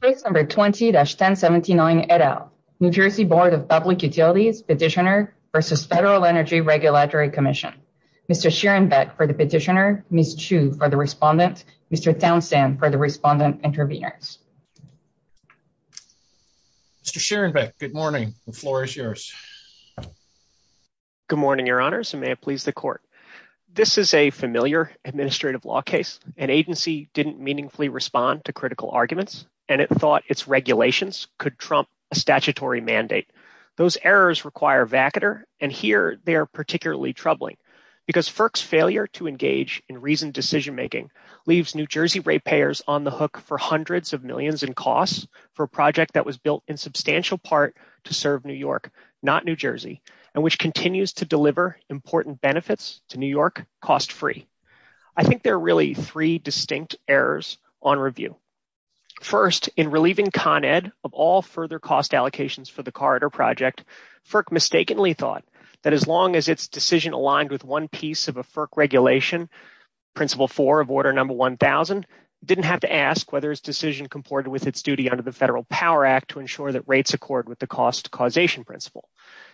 Page number 20-1079 et al. New Jersey Board of Public Utilities Petitioner v. Federal Energy Regulatory Commission. Mr. Sheerenbeck for the petitioner, Ms. Chu for the respondent, Mr. Townsend for the respondent intervener. Mr. Sheerenbeck, good morning. The floor is yours. Good morning, your honors, and may it please the court. This is a familiar administrative law case. An agency didn't meaningfully respond to critical arguments, and it thought its regulations could trump a statutory mandate. Those errors require vacater, and here they are particularly troubling, because FERC's failure to engage in reasoned decision-making leaves New Jersey ratepayers on the hook for hundreds of millions in costs for a project that was built in substantial part to serve New York, not New Jersey, and which continues to deliver important benefits to New York cost-free. I think there are really three distinct errors on review. First, in relieving Con Ed of all further cost allocations for the corridor project, FERC mistakenly thought that as long as its decision aligned with one piece of a FERC regulation, principle four of order number 1,000, it didn't have to ask whether its decision comported with its duty under the Federal Power Act to ensure that rates accord with the cost causation principle.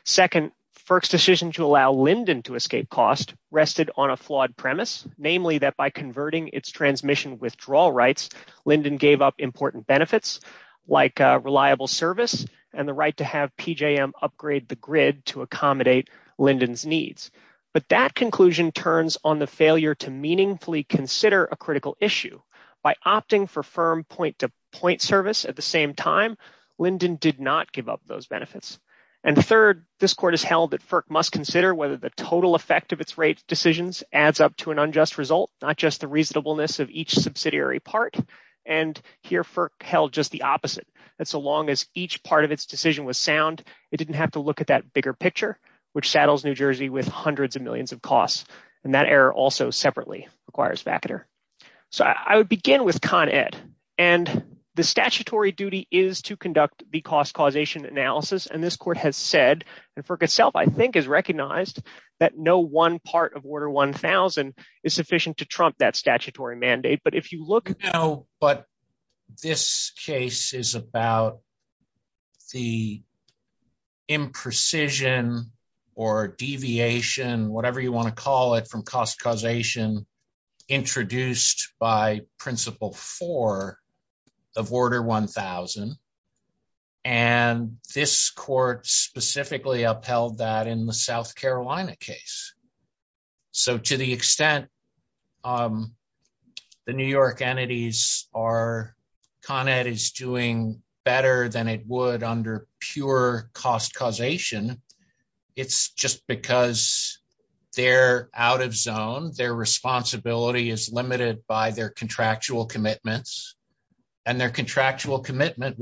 Second, FERC's decision to allow Linden to escape cost rested on a flawed premise, namely that by converting its transmission withdrawal rights, Linden gave up important benefits like reliable service and the right to have PJM upgrade the grid to accommodate Linden's needs. But that conclusion turns on the failure to meaningfully consider a critical issue. By opting for firm point-to-point service at the same time, Linden did not give up those benefits. And third, this court has held that FERC must consider whether the total effect of its rate decisions adds up to an unjust result, not just the reasonableness of each subsidiary part. And here, FERC held just the opposite, that so long as each part of its decision was sound, it didn't have to look at that bigger picture, which saddles New Jersey with hundreds of millions of costs. And that error also separately requires FACETR. So I would begin with Con Ed. And the statutory duty is to conduct the cost causation analysis. And this court has said, and FERC itself, I think, has recognized that no one part of Order 1000 is sufficient to trump that statutory mandate. But if you look at- This case is about the imprecision or deviation, whatever you want to call it, from cost causation introduced by Principle 4 of Order 1000. And this court specifically upheld that in the South Carolina case. So to the extent the New York entities are- Con Ed is doing better than it would under pure cost causation. It's just because they're out of zone, their responsibility is limited by their contractual commitments. And their contractual commitment,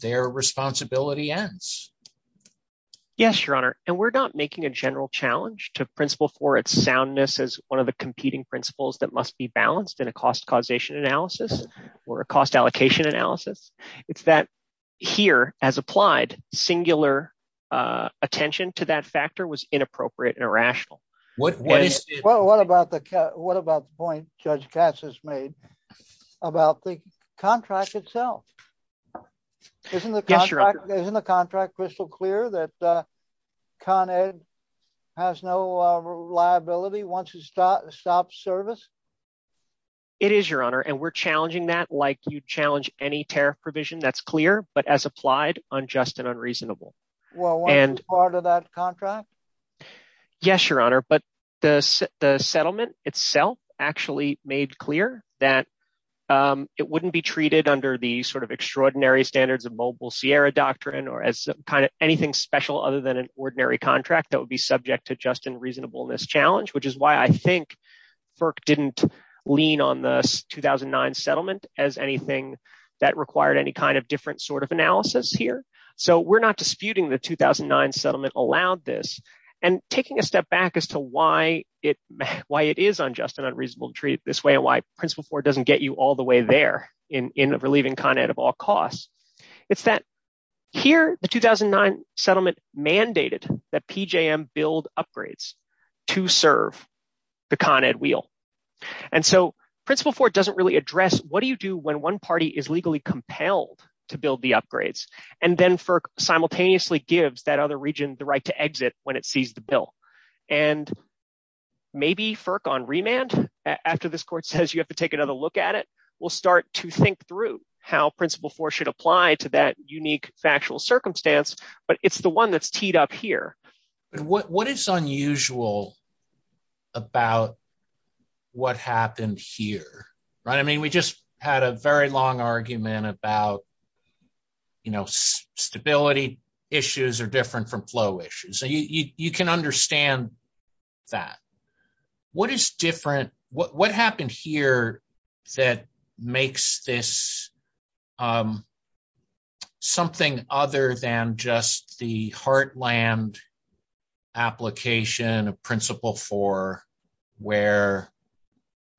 their responsibility ends. Yes, Your Honor. And we're not making a general challenge to Principle 4. Its soundness is one of the competing principles that must be balanced in a cost causation analysis or a cost allocation analysis. It's that here, as applied, singular attention to that factor was inappropriate and irrational. What about the point Judge Cass has made about the contract itself? Isn't the contract crystal clear that Con Ed has no liability once it stops service? It is, Your Honor. And we're challenging that like you'd challenge any tariff provision. That's clear, but as applied, unjust and unreasonable. Well, wasn't part of that contract? Yes, Your Honor. But the settlement itself actually made clear that it wouldn't be treated under the extraordinary standards of mobile Sierra doctrine or as anything special other than an ordinary contract that would be subject to just and reasonableness challenge, which is why I think FERC didn't lean on the 2009 settlement as anything that required any kind of different sort of analysis here. So we're not disputing the 2009 settlement allowed this. And taking a step back as to why it is unjust and unreasonable to treat it this way and why Principle 4 doesn't get you the way there in relieving Con Ed of all costs. It's that here, the 2009 settlement mandated that PJM build upgrades to serve the Con Ed wheel. And so Principle 4 doesn't really address what do you do when one party is legally compelled to build the upgrades and then FERC simultaneously gives that other region the right to exit when it sees the bill. And maybe FERC on remand after this we'll start to think through how Principle 4 should apply to that unique factual circumstance, but it's the one that's teed up here. What is unusual about what happened here, right? I mean, we just had a very long argument about, you know, stability issues are different from flow issues. You can understand that. What is different? What happened here that makes this something other than just the heartland application of Principle 4 where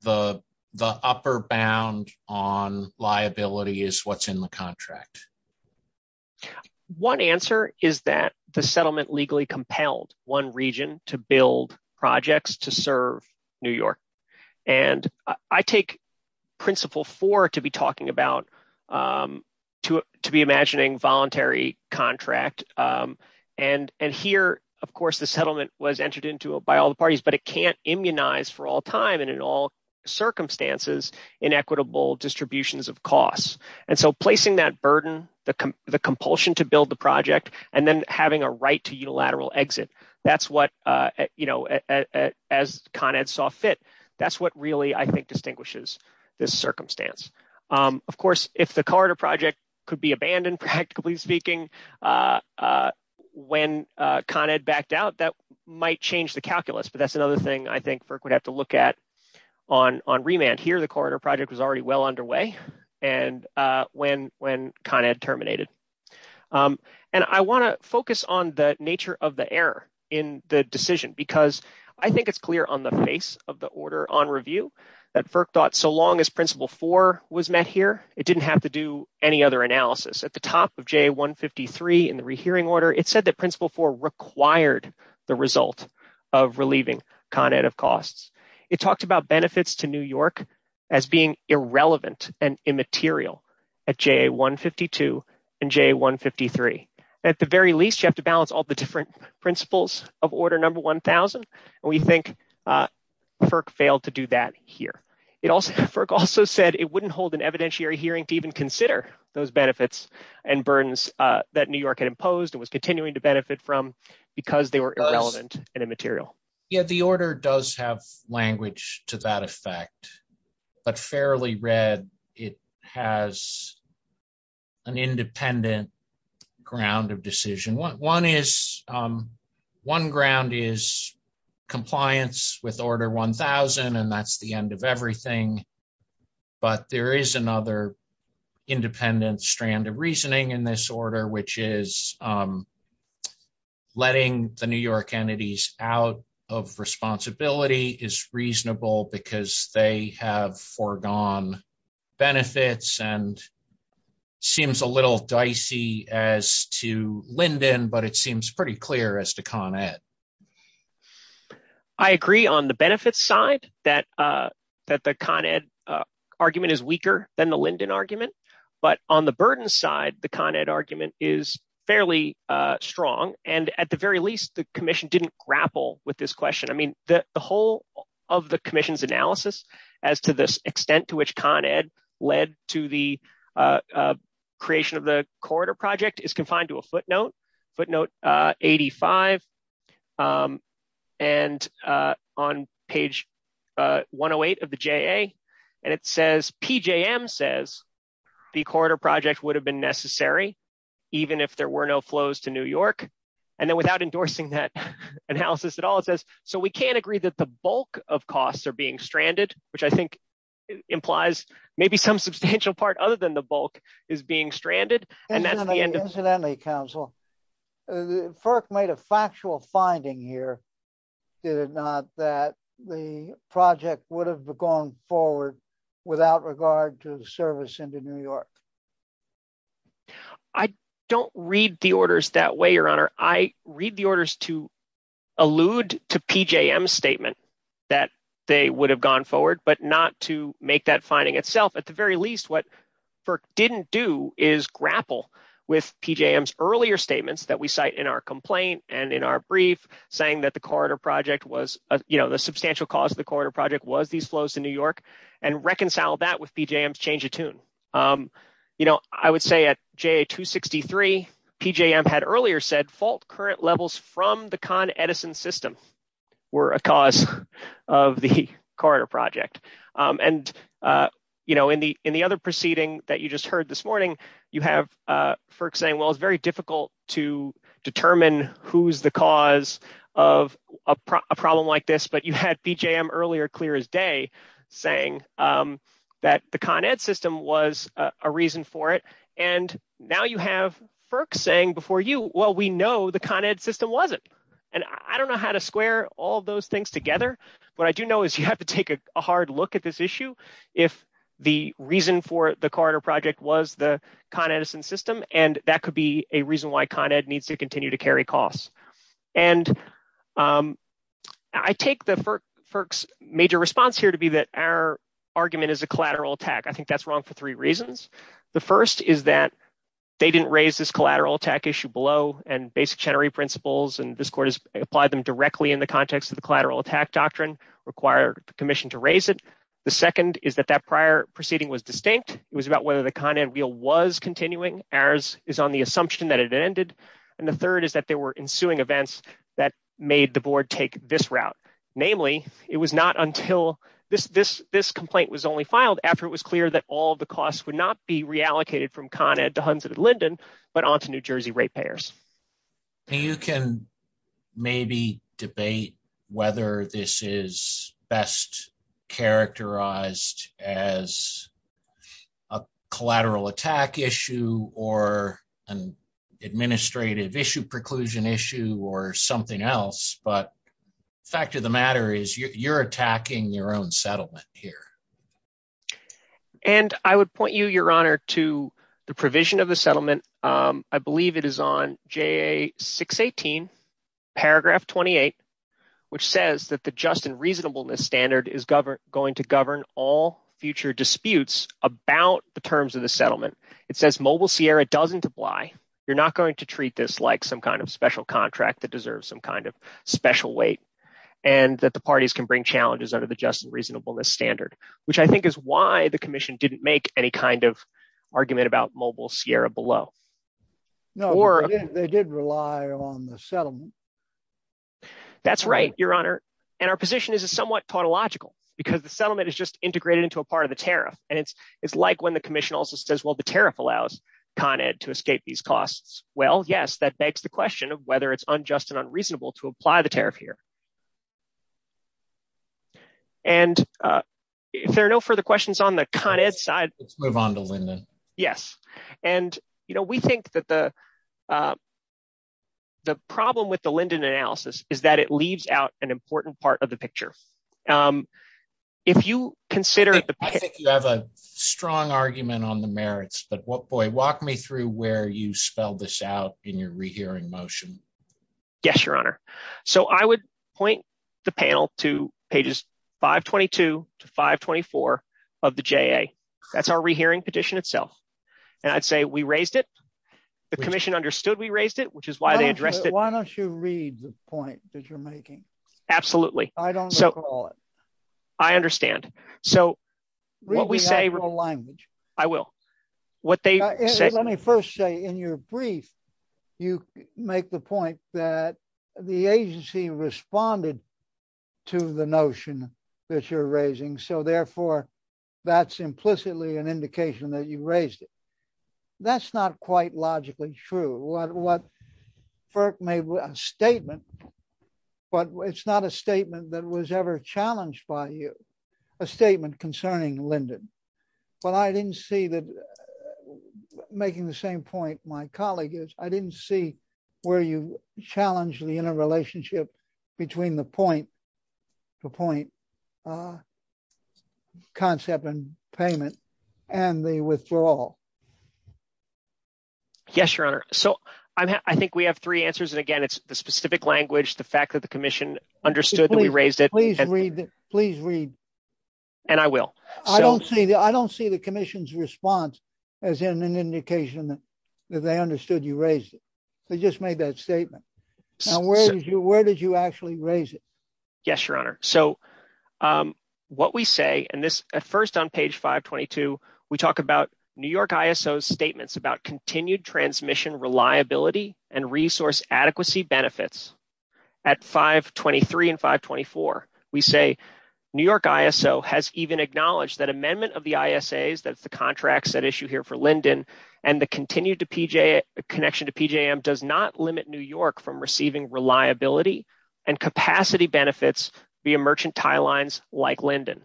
the upper bound on liability is what's in the contract? One answer is that the settlement legally compelled one region to build projects to serve New York. And I take Principle 4 to be imagining voluntary contract. And here, of course, the settlement was entered into by all the parties, but it can't immunize for all time and in all compulsion to build the project and then having a right to unilateral exit. That's what, you know, as Con Ed saw fit, that's what really I think distinguishes this circumstance. Of course, if the corridor project could be abandoned, practically speaking, when Con Ed backed out, that might change the calculus. But that's another thing I think FERC would have to look at on remand. Here, the corridor project was already well underway and when Con Ed terminated. And I want to focus on the nature of the error in the decision because I think it's clear on the face of the order on review that FERC thought so long as Principle 4 was met here, it didn't have to do any other analysis. At the top of JA 153 in the rehearing order, it said that Principle 4 required the result of relieving Con Ed of costs. It talked about benefits to New York as being irrelevant and immaterial at JA 152 and JA 153. At the very least, you have to balance all the different principles of order number 1,000. And we think FERC failed to do that here. It also, FERC also said it wouldn't hold an evidentiary hearing to even consider those because they were irrelevant and immaterial. Yeah, the order does have language to that effect. But fairly read, it has an independent ground of decision. One ground is compliance with order 1,000 and that's the end of everything. But there is another independent strand of reasoning in this order, which is letting the New York entities out of responsibility is reasonable because they have foregone benefits and seems a little dicey as to Linden, but it seems pretty clear as to Con Ed. I agree on the benefits side that the Con Ed argument is weaker than the Linden argument. But on the burden side, the Con Ed argument is fairly strong. And at the very least, the commission didn't grapple with this question. I mean, the whole of the commission's analysis as to the extent to which Con Ed led to the creation of the corridor project is confined to a footnote, footnote 85, and on page 108 of the JA. And it says, PJM says, the corridor project would have been necessary even if there were no flows to New York. And then without endorsing that analysis at all, it says, so we can't agree that the bulk of costs are being stranded, which I think implies maybe some substantial part other than the bulk is being stranded. And that's the end of the study, counsel. FERC made a factual finding here, did it not, that the project would have gone forward without regard to the service into New York? I don't read the orders that way, Your Honor. I read the orders to allude to PJM's statement that they would have gone forward, but not to earlier statements that we cite in our complaint and in our brief saying that the corridor project was, you know, the substantial cause of the corridor project was these flows to New York and reconcile that with PJM's change of tune. You know, I would say at JA-263, PJM had earlier said fault current levels from the Con Edison system were a cause of the corridor project. And, you know, in the other proceeding that you just heard this morning, you have FERC saying, well, it's very difficult to determine who's the cause of a problem like this, but you had PJM earlier clear as day saying that the Con Ed system was a reason for it. And now you have FERC saying before you, well, we know the Con Ed system wasn't. And I don't know how to square all those things together. What I do know is you have to take a hard look at this issue if the reason for the corridor project was the Con Edison system, and that could be a reason why Con Ed needs to continue to carry costs. And I take the FERC's major response here to be that our argument is a collateral attack. I think that's wrong for three reasons. The first is that they didn't raise this collateral attack issue below and basic Chenery principles and this court has applied them directly in the context of the collateral attack doctrine require the commission to raise it. The second is that that prior proceeding was distinct. It was about whether the Con Ed wheel was continuing as is on the assumption that it ended. And the third is that there were ensuing events that made the board take this route. Namely, it was not until this complaint was only filed after it was clear that all the costs would not be reallocated from Con Ed to Hunsett and Linden, but onto New Jersey rate payers. You can maybe debate whether this is best characterized as a collateral attack issue or an administrative issue preclusion issue or something else, but the fact of the matter is you're attacking your own settlement here. And I would point you, your honor, to the JA 618 paragraph 28, which says that the just and reasonableness standard is going to govern all future disputes about the terms of the settlement. It says mobile Sierra doesn't apply. You're not going to treat this like some kind of special contract that deserves some kind of special weight and that the parties can bring challenges under the just and reasonableness standard, which I think is why the commission didn't make any kind of argument about mobile Sierra below. No, they did rely on the settlement. That's right, your honor. And our position is somewhat tautological because the settlement is just integrated into a part of the tariff. And it's like when the commission also says, well, the tariff allows Con Ed to escape these costs. Well, yes, that begs the question of whether it's unjust and unreasonable to apply the tariff here. And if there are no further questions on the Con Ed side, let's move on to Linden. Yes. And, you know, we think that the. The problem with the Linden analysis is that it leaves out an important part of the picture. If you consider that you have a strong argument on the merits, but walk me through where you spelled this out in your rehearing motion. Yes, your honor. So I would point the panel to pages 522 to 524 of the J.A. That's our rehearing petition itself. And I'd say we raised it. The commission understood we raised it, which is why they addressed it. Why don't you read the point that you're making? Absolutely. I don't know. I understand. So what we say I will what they say. Let me first say in your brief, you make the point that the agency responded to the notion that you're raising. So therefore, that's implicitly an indication that you raised it. That's not quite logically true. What Firk made was a statement, but it's not a statement that was ever challenged by you. A statement concerning Linden. But I didn't see that making the same point my colleague is. I didn't see where you challenged the interrelationship between the point, the point concept and payment and the withdrawal. Yes, your honor. So I think we have three answers. And again, it's the specific language, the fact that the commission understood that we raised it. Please read. Please read. And I will. I don't see that. I don't see the commission's response as an indication that they understood you raised it. They just made that statement. And where did you where did you actually raise it? Yes, your honor. So what we say and this at first on page 522, we talk about New York ISO statements about continued transmission, reliability and resource adequacy benefits. At 523 and 524, we say New York ISO has even acknowledged that amendment of the that's the contracts that issue here for Linden and the continued to PJ connection to PJM does not limit New York from receiving reliability and capacity benefits via merchant tie lines like Linden.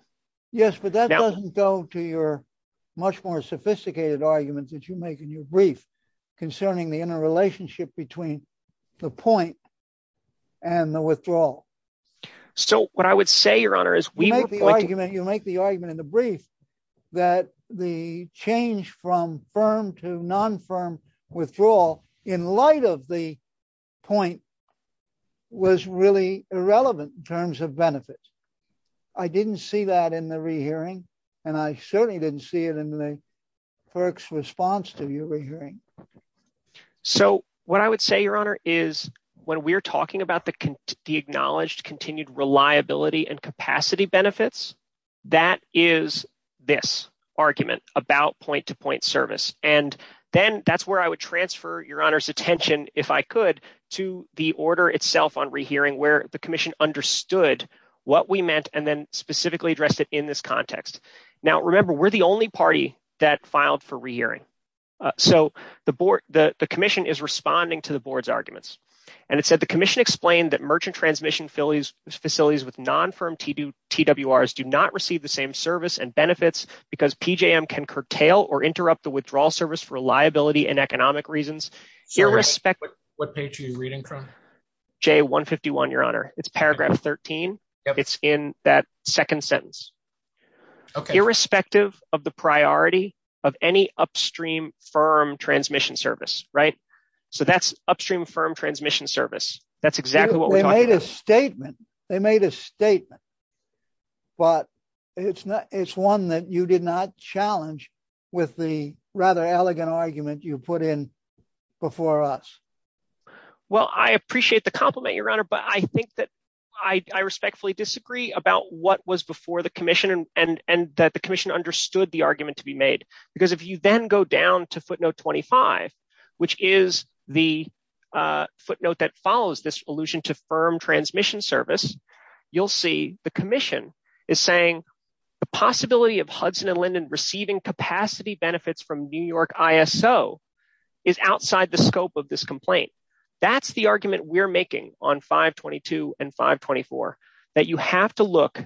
Yes, but that doesn't go to your much more sophisticated arguments that you make in your brief concerning the interrelationship between the point and the withdrawal. So what I would say, your honor, is we make the argument you make the argument in the brief that the change from firm to non-firm withdrawal in light of the point was really irrelevant in terms of benefits. I didn't see that in the re-hearing and I certainly didn't see it in the FERC's response to your hearing. So what I would say, your honor, is when we're talking about the acknowledged continued reliability and capacity benefits, that is this argument about point-to-point service. And then that's where I would transfer your honor's attention, if I could, to the order itself on re-hearing where the commission understood what we meant and then specifically addressed it in this context. Now remember, we're the only party that filed for re-hearing. So the board, the commission is responding to the board's arguments and it said, the commission explained that merchant transmission facilities with non-firm TWRs do not receive the same service and benefits because PJM can curtail or interrupt the withdrawal service for reliability and economic reasons. Irrespective- What page are you reading from? J151, your honor. It's paragraph 13. It's in that second sentence. Irrespective of the priority of any upstream firm transmission service. So that's upstream firm transmission service. That's exactly what we're talking about. They made a statement. They made a statement, but it's one that you did not challenge with the rather elegant argument you put in before us. Well, I appreciate the compliment, your honor, but I think that I respectfully disagree about what was before the commission and that the commission understood the argument to be made. Because if you then go down to footnote 25, which is the footnote that follows this allusion to firm transmission service, you'll see the commission is saying the possibility of Hudson and Linden receiving capacity benefits from New York ISO is outside the scope of this complaint. That's the argument we're making on 522 and 524, that you have to look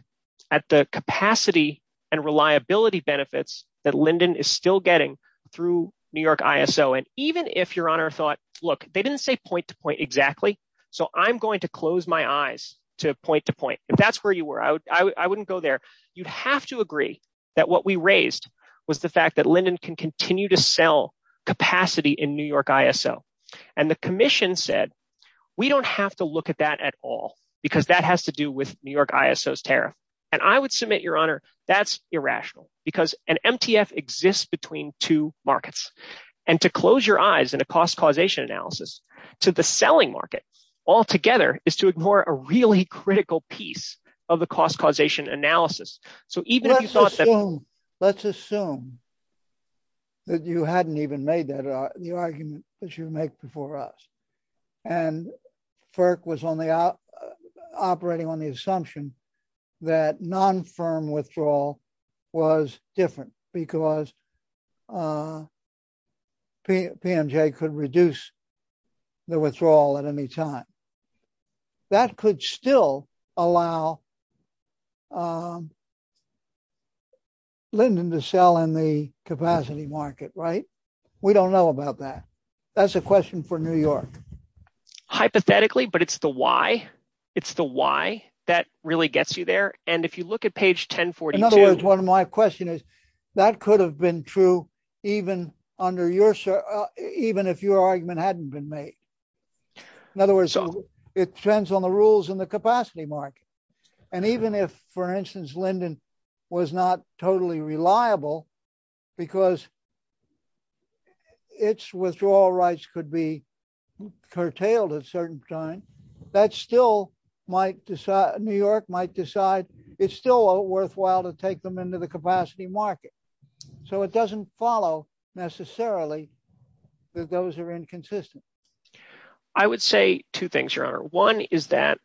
at the capacity and reliability benefits that Linden is still getting through New York ISO. And even if your honor thought, look, they didn't say point to point exactly. So I'm going to close my eyes to point to point. If that's where you were, I wouldn't go there. You'd have to agree that what we raised was the fact that Linden can continue to sell capacity in New York ISO. And the commission said, we don't have to look at that at all, because that has to do with New York ISO's tariff. And I would submit, your honor, that's irrational because an MTF exists between two markets. And to close your eyes in a cost causation analysis to the selling market altogether is to ignore a really critical piece of the cost causation analysis. So even if you thought that- Let's assume that you hadn't even the argument that you make before us. And FERC was only operating on the assumption that non-firm withdrawal was different because PMJ could reduce the withdrawal at any time. That could still allow Linden to sell in the capacity market, right? We don't know about that. That's a question for New York. Hypothetically, but it's the why. It's the why that really gets you there. And if you look at page 1042- In other words, one of my question is that could have been true even if your argument hadn't been made. In other words, it depends on the rules in the capacity market. And even if, for instance, Linden was not totally reliable because its withdrawal rights could be curtailed at a certain time, New York might decide it's still worthwhile to take them into the capacity market. So it I would say two things, Your Honor. One is that,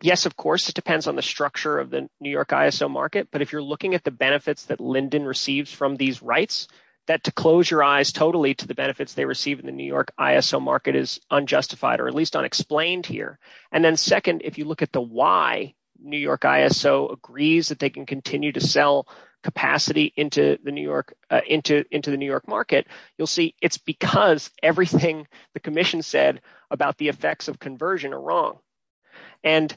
yes, of course, it depends on the structure of the New York ISO market. But if you're looking at the benefits that Linden receives from these rights, that to close your eyes totally to the benefits they receive in the New York ISO market is unjustified or at least unexplained here. And then second, if you look at the why New York ISO agrees that they can continue to sell capacity into the New York market, you'll see it's because everything the commission said about the effects of conversion are wrong. And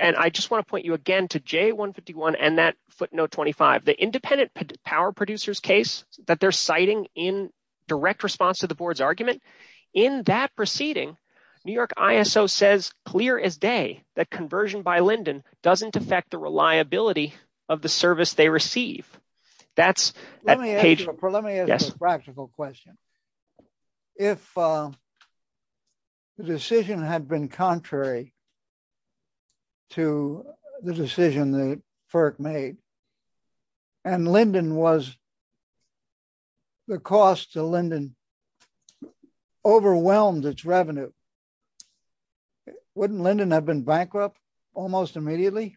I just want to point you again to J151 and that footnote 25, the independent power producers case that they're citing in direct response to the board's argument. In that proceeding, New York ISO says clear as day that conversion by Linden doesn't affect the reliability of the service they receive. Let me ask you a practical question. If the decision had been contrary to the decision that FERC made and Linden was, the cost to Linden overwhelmed its revenue, wouldn't Linden have been bankrupt almost immediately?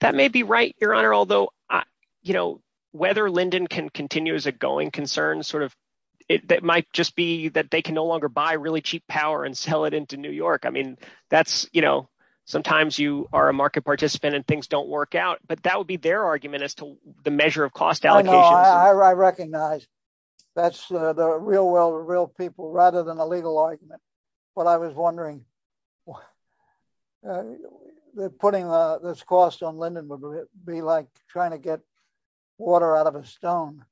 That may be right, your honor. Although, you know, whether Linden can continue as a going concern sort of, it might just be that they can no longer buy really cheap power and sell it into New York. I mean, that's, you know, sometimes you are a market participant and things don't work out, but that would be their argument as to the measure of cost allocation. I recognize that's the real world, real people rather than a legal argument. But I was wondering if putting this cost on Linden would be like trying to get water out of a stone.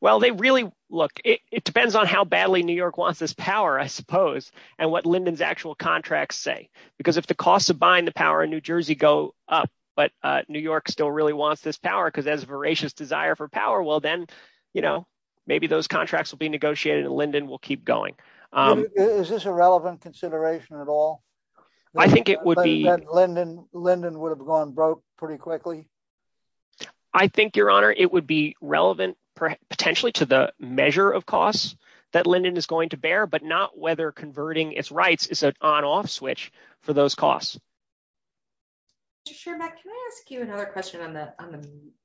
Well, they really, look, it depends on how badly New York wants this power, I suppose, and what Linden's actual contracts say. Because if the costs of buying the power in New Jersey go up, but New York still really wants this power because there's a voracious desire for power, well then, you know, maybe those contracts will be negotiated and Linden will keep going. Is this a relevant consideration at all? I think it would be. Linden would have gone broke pretty quickly. I think, your honor, it would be relevant potentially to the measure of costs that Linden is going to bear, but not whether converting its rights is an on-off switch for those costs. Mr. Schermak, can I ask you another question on the,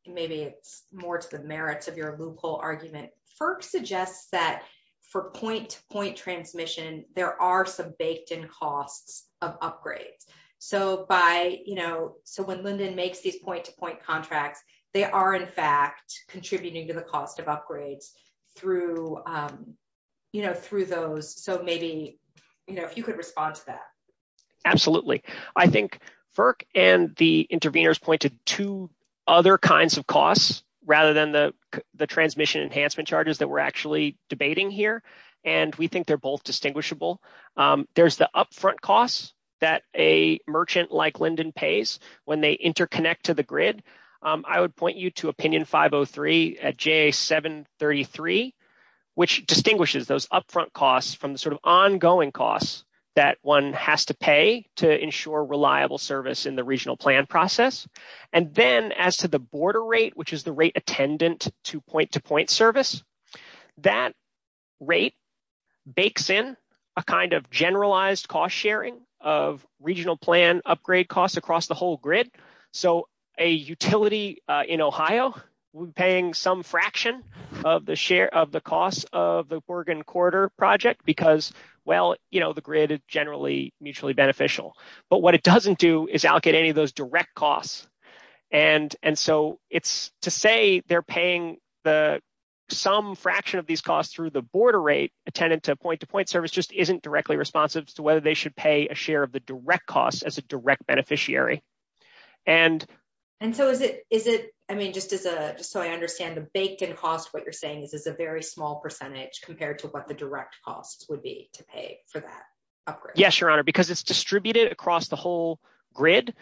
maybe it's more to the merits of your argument. FERC suggests that for point-to-point transmission, there are some baked-in costs of upgrades. So by, you know, so when Linden makes these point-to-point contracts, they are in fact contributing to the cost of upgrades through, you know, through those. So maybe, you know, if you could respond to that. Absolutely. I think FERC and the intervenors pointed to other kinds of costs rather than the transmission enhancement charges that we're actually debating here. And we think they're both distinguishable. There's the upfront costs that a merchant like Linden pays when they interconnect to the grid. I would point you to opinion 503 at JA733, which distinguishes those upfront costs from the sort of ongoing costs that one has to pay to ensure reliable service in the regional plan process. And then as to the border rate, which is the rate attendant to point-to-point service, that rate bakes in a kind of generalized cost sharing of regional plan upgrade costs across the whole grid. So a utility in Ohio would be paying some fraction of the cost of the generally mutually beneficial. But what it doesn't do is allocate any of those direct costs. And so it's to say they're paying some fraction of these costs through the border rate attendant to point-to-point service just isn't directly responsive to whether they should pay a share of the direct costs as a direct beneficiary. And so is it, I mean, just as a, just so I understand the baked in cost, what you're saying is a very small percentage compared to what the Yes, your honor, because it's distributed across the whole grid,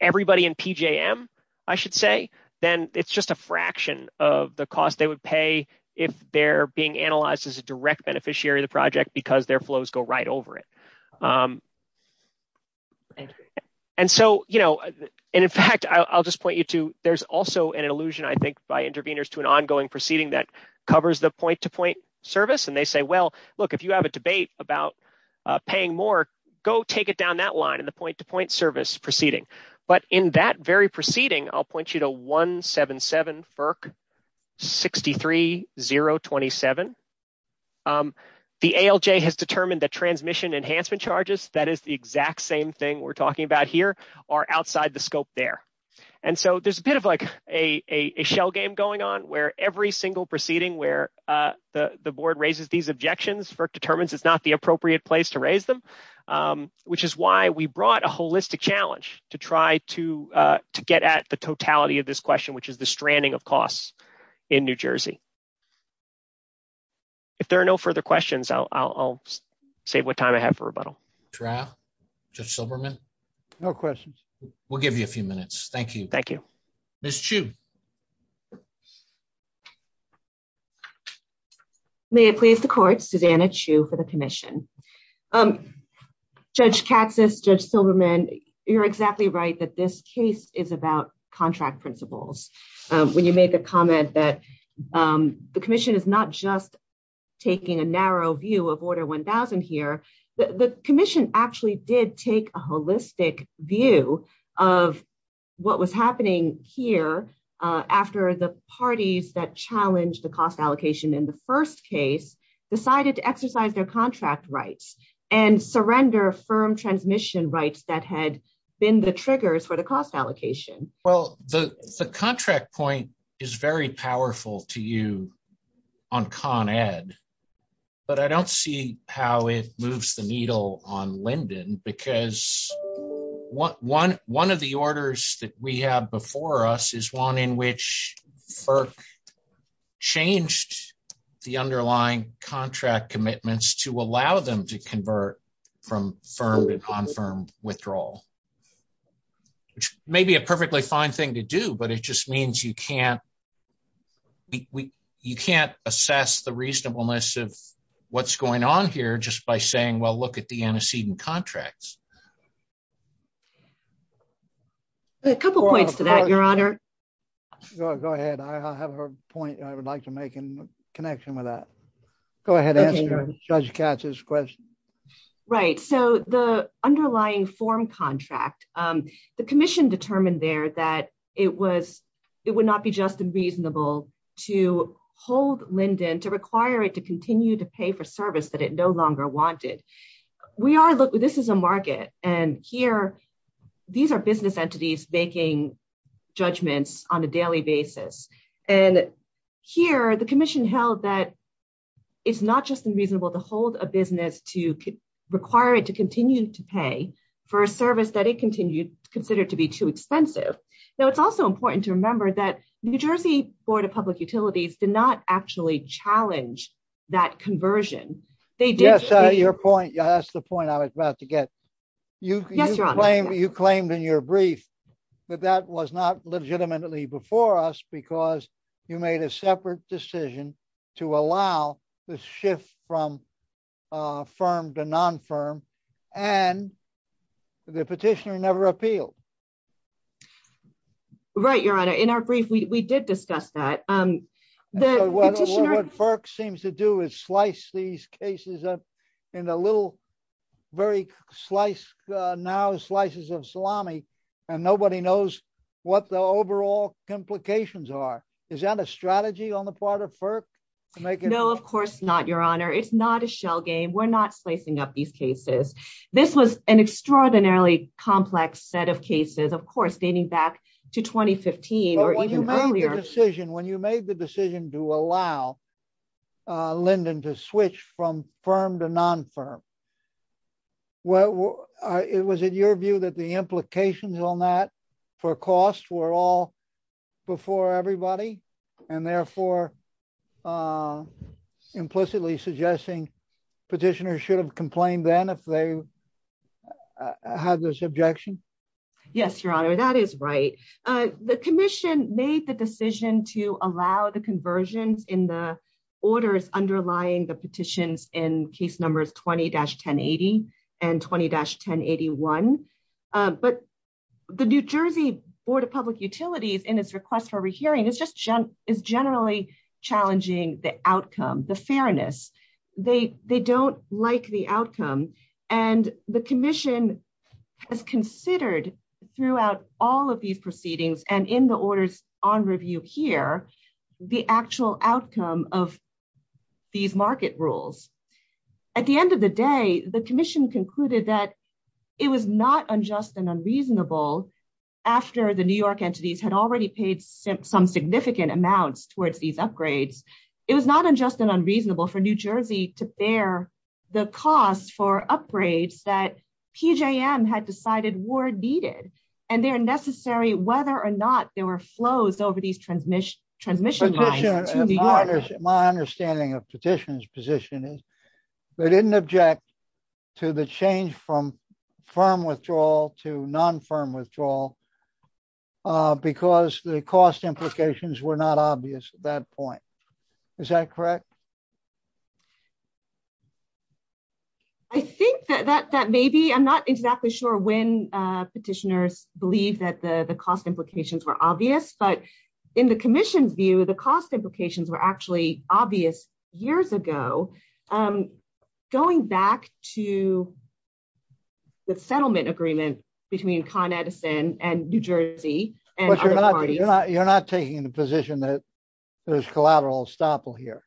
everybody in PJM, I should say, then it's just a fraction of the cost they would pay if they're being analyzed as a direct beneficiary of the project because their flows go right over it. And so, you know, and in fact, I'll just point you to, there's also an illusion, I think, by intervenors to an ongoing proceeding that covers the point-to-point service. And they say, look, if you have a debate about paying more, go take it down that line in the point-to-point service proceeding. But in that very proceeding, I'll point you to 177 FERC 63027. The ALJ has determined that transmission enhancement charges, that is the exact same thing we're talking about here, are outside the scope there. And so there's a bit of like a shell game going on where every single proceeding where the board raises these objections, FERC determines it's not the appropriate place to raise them, which is why we brought a holistic challenge to try to get at the totality of this question, which is the stranding of costs in New Jersey. If there are no further questions, I'll save what time I have for rebuttal. Traf, Judge Silberman? No questions. We'll give you a few minutes. Thank you. Thank you. Ms. Chiu. May it please the court, Susanna Chiu for the commission. Judge Katsas, Judge Silberman, you're exactly right that this case is about contract principles. When you make a comment that the commission is not just taking a narrow view of Order 1000 here, the commission actually did take a holistic view of what was happening here after the parties that challenged the cost allocation in the first case decided to exercise their contract rights and surrender firm transmission rights that had been the triggers for the cost allocation. Well, the contract point is very powerful to you on Con Ed, but I don't see how it moves the needle on Linden because one of the orders that we have before us is one in which FERC changed the underlying contract commitments to allow them to convert from firm to non-firm withdrawal, which may be a perfectly fine thing to do, but it just means you can't assess the reasonableness of what's going on here just by saying, well, look at the antecedent contracts. A couple of points to that, Your Honor. Go ahead. I have a point I would like to make in connection with that. Go ahead and answer Judge Katsas' question. Right. So the underlying form contract, the commission determined there that it would not be just and reasonable to hold Linden, to require it to continue to pay for service that it no longer wanted. This is a market and here these are business entities making judgments on a daily basis. And here the commission held that it's not just unreasonable to hold a business to require it to continue to pay for a service that it considered to be too expensive. Now, it's also important to remember that New Jersey Board of Public Utilities did not actually challenge that conversion. Yes, that's the point I was about to get. You claimed in your brief that that was not legitimately before us because you made a separate decision to allow the shift from firm to non-firm and the petitioner never appealed. Right, Your Honor. In our brief, we did discuss that. The petitioner... What FERC seems to do is slice these cases up in a little very slice, now slices of salami, and nobody knows what the overall complications are. Is that a strategy on the part of FERC to make it... No, of course not, Your Honor. It's not a shell game. We're not slicing up these cases. This was an extraordinarily complex set of cases, of course, dating back to 2015 or even earlier. When you made the decision to allow Lyndon to switch from firm to non-firm, was it your view that the implications on that for cost were all before everybody and therefore implicitly suggesting petitioners should have objections? Yes, Your Honor, that is right. The commission made the decision to allow the conversions in the orders underlying the petitions in case numbers 20-1080 and 20-1081, but the New Jersey Board of Public Utilities, in its request for a re-hearing, is generally challenging the outcome, the fairness. They don't like the outcome, and the commission has considered throughout all of these proceedings and in the orders on review here, the actual outcome of these market rules. At the end of the day, the commission concluded that it was not unjust and unreasonable after the New York entities had already paid some significant amounts towards these upgrades. It was not unjust and unreasonable for New Jersey to bear the cost for upgrades that PJM had decided were needed, and they're necessary whether or not there were flows over these transmission lines to New York. My understanding of petitioners' position is they didn't object to the change from firm withdrawal to non-firm withdrawal because the cost implications were not obvious at that point. Is that correct? I think that that may be. I'm not exactly sure when petitioners believe that the cost implications were obvious, but in the commission's view, the cost implications were actually years ago, going back to the settlement agreement between Con Edison and New Jersey. You're not taking the position that there's collateral estoppel here?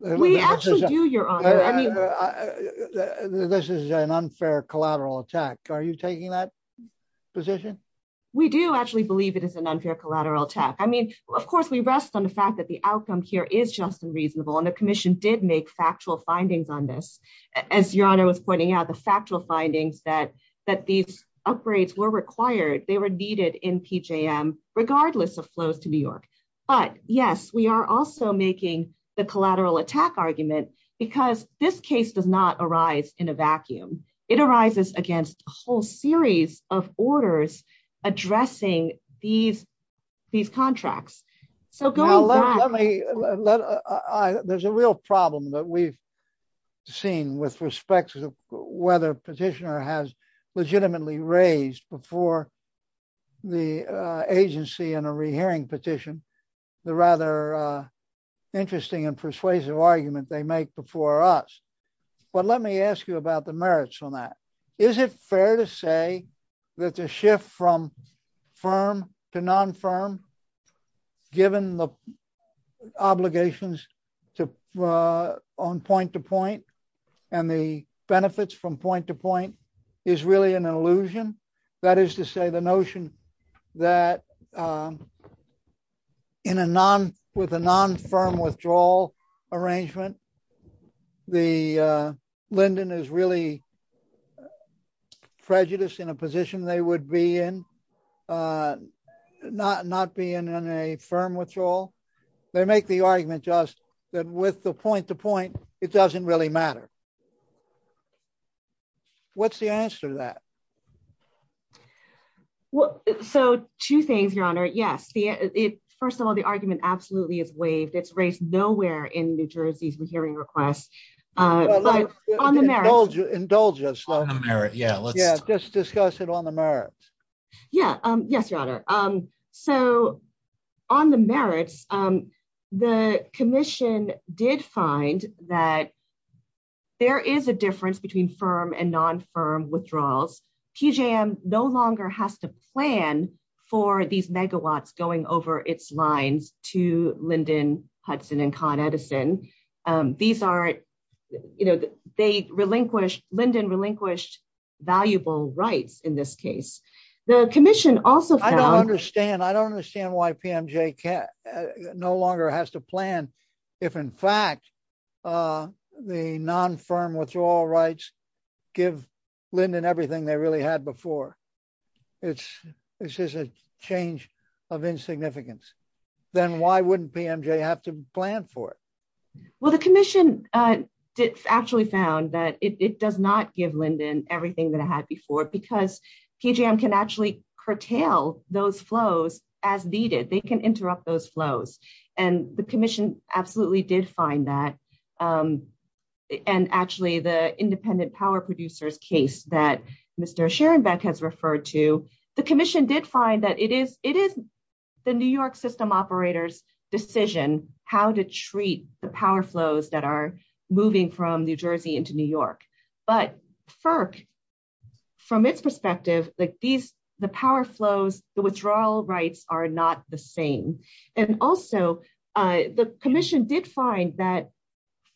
This is an unfair collateral attack. Are you taking that position? We do actually believe it is an unfair collateral attack. Of course, we rest on the fact that the is just unreasonable, and the commission did make factual findings on this. As Your Honor was pointing out, the factual findings that these upgrades were required, they were needed in PJM, regardless of flows to New York. But yes, we are also making the collateral attack argument because this case does not arise in a vacuum. It arises against a whole series of orders addressing these contracts. There's a real problem that we've seen with respect to whether petitioner has legitimately raised before the agency in a rehearing petition the rather interesting and persuasive argument they make before us. But let me ask you about the merits on that. Is it fair to say that the shift from firm to non-firm, given the obligations on point to point and the benefits from point to point is really an illusion? That is to say the notion that with a non-firm withdrawal arrangement, the Linden is really prejudiced in a position they would be in, not being in a firm withdrawal. They make the argument just that with the point to point, it doesn't really matter. What's the answer to that? Well, so two things, Your Honor. Yes. First of all, the argument absolutely is waived. It's nowhere in New Jersey's rehearing request. Indulge us. Just discuss it on the merits. Yeah. Yes, Your Honor. So on the merits, the commission did find that there is a difference between firm and non-firm withdrawals. PJM no longer has to plan for these megawatts going over its lines to Linden, Hudson, and Con Edison. Linden relinquished valuable rights in this case. I don't understand why PMJ no longer has to plan if in fact the non-firm withdrawal rights give Linden everything they really had before. It's just a change of insignificance. Then why wouldn't PMJ have to plan for it? Well, the commission actually found that it does not give Linden everything that it had before because PJM can actually curtail those flows as needed. They can interrupt those flows. The commission absolutely did find that. Actually, the independent power producer's case that Mr. Scherenbeck has referred to, the commission did find that it is the New York system operator's decision how to treat the power flows that are moving from New Jersey into New York. But FERC, from its perspective, the power flows, the withdrawal rights are not the same. Also, the commission did find that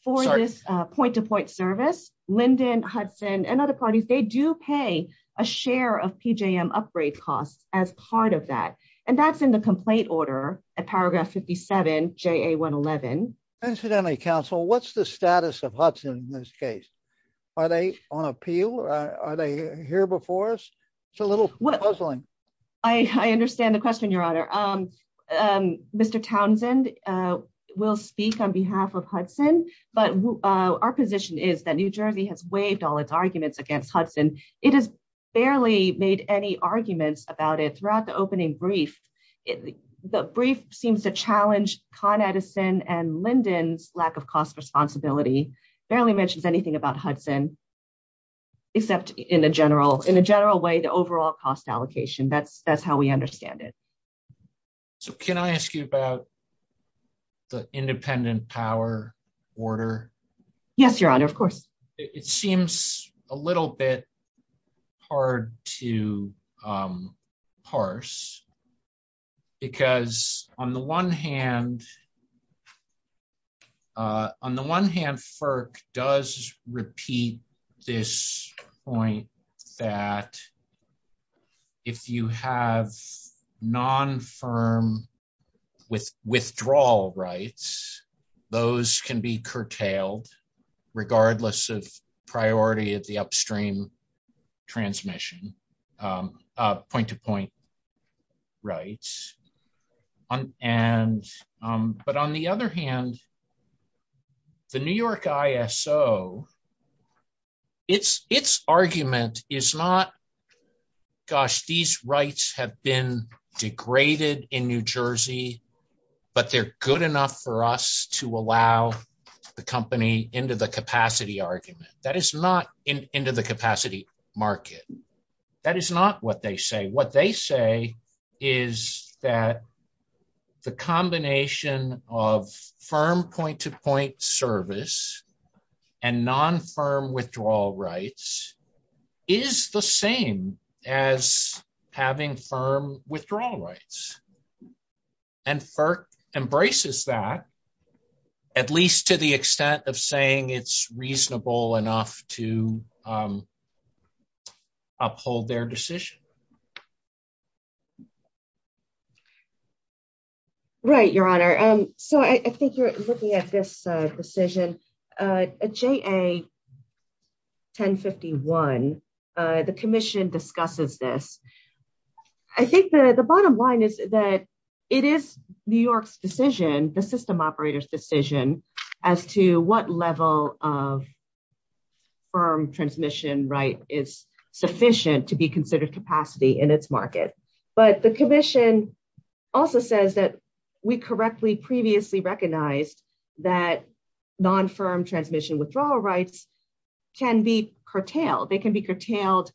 for this point-to-point service, Linden, Hudson, and other parties, they do pay a share of PJM upgrade costs as part of that. That's in the complaint order at paragraph 57, JA111. Incidentally, counsel, what's the status of Hudson in this case? Are they on appeal? Are they here before us? It's a little puzzling. I understand the question, Your Honor. Mr. Townsend will speak on behalf of Hudson, but our position is that New Jersey has waived all its arguments against Hudson. It has barely made any arguments about it throughout the opening brief. The brief seems to challenge Con Edison and Linden's lack of cost responsibility, barely mentions anything about we understand it. Can I ask you about the independent power order? Yes, Your Honor, of course. It seems a little bit hard to parse, because on the one hand, FERC does repeat this point that if you have non-firm withdrawal rights, those can be curtailed regardless of priority of the upstream transmission, point-to-point rights. On the other hand, the New York ISO, its argument is not, gosh, these rights have been degraded in New Jersey, but they're good enough for us to allow the company into the capacity argument. That is not into the capacity market. That is not what they say. What they say is that the combination of firm point-to-point service and non-firm withdrawal rights is the same as having firm withdrawal rights. FERC embraces that, at least to the extent of saying it's reasonable enough to uphold their decision. Right, Your Honor. I think you're looking at this decision, JA1051. The commission discusses this. I think the bottom line is that it is New York's decision, the system operator's decision, as to what level of firm transmission right is sufficient to be considered capacity in its market. The commission also says that we correctly previously recognized that non-firm transmission withdrawal rights can be curtailed. They can be curtailed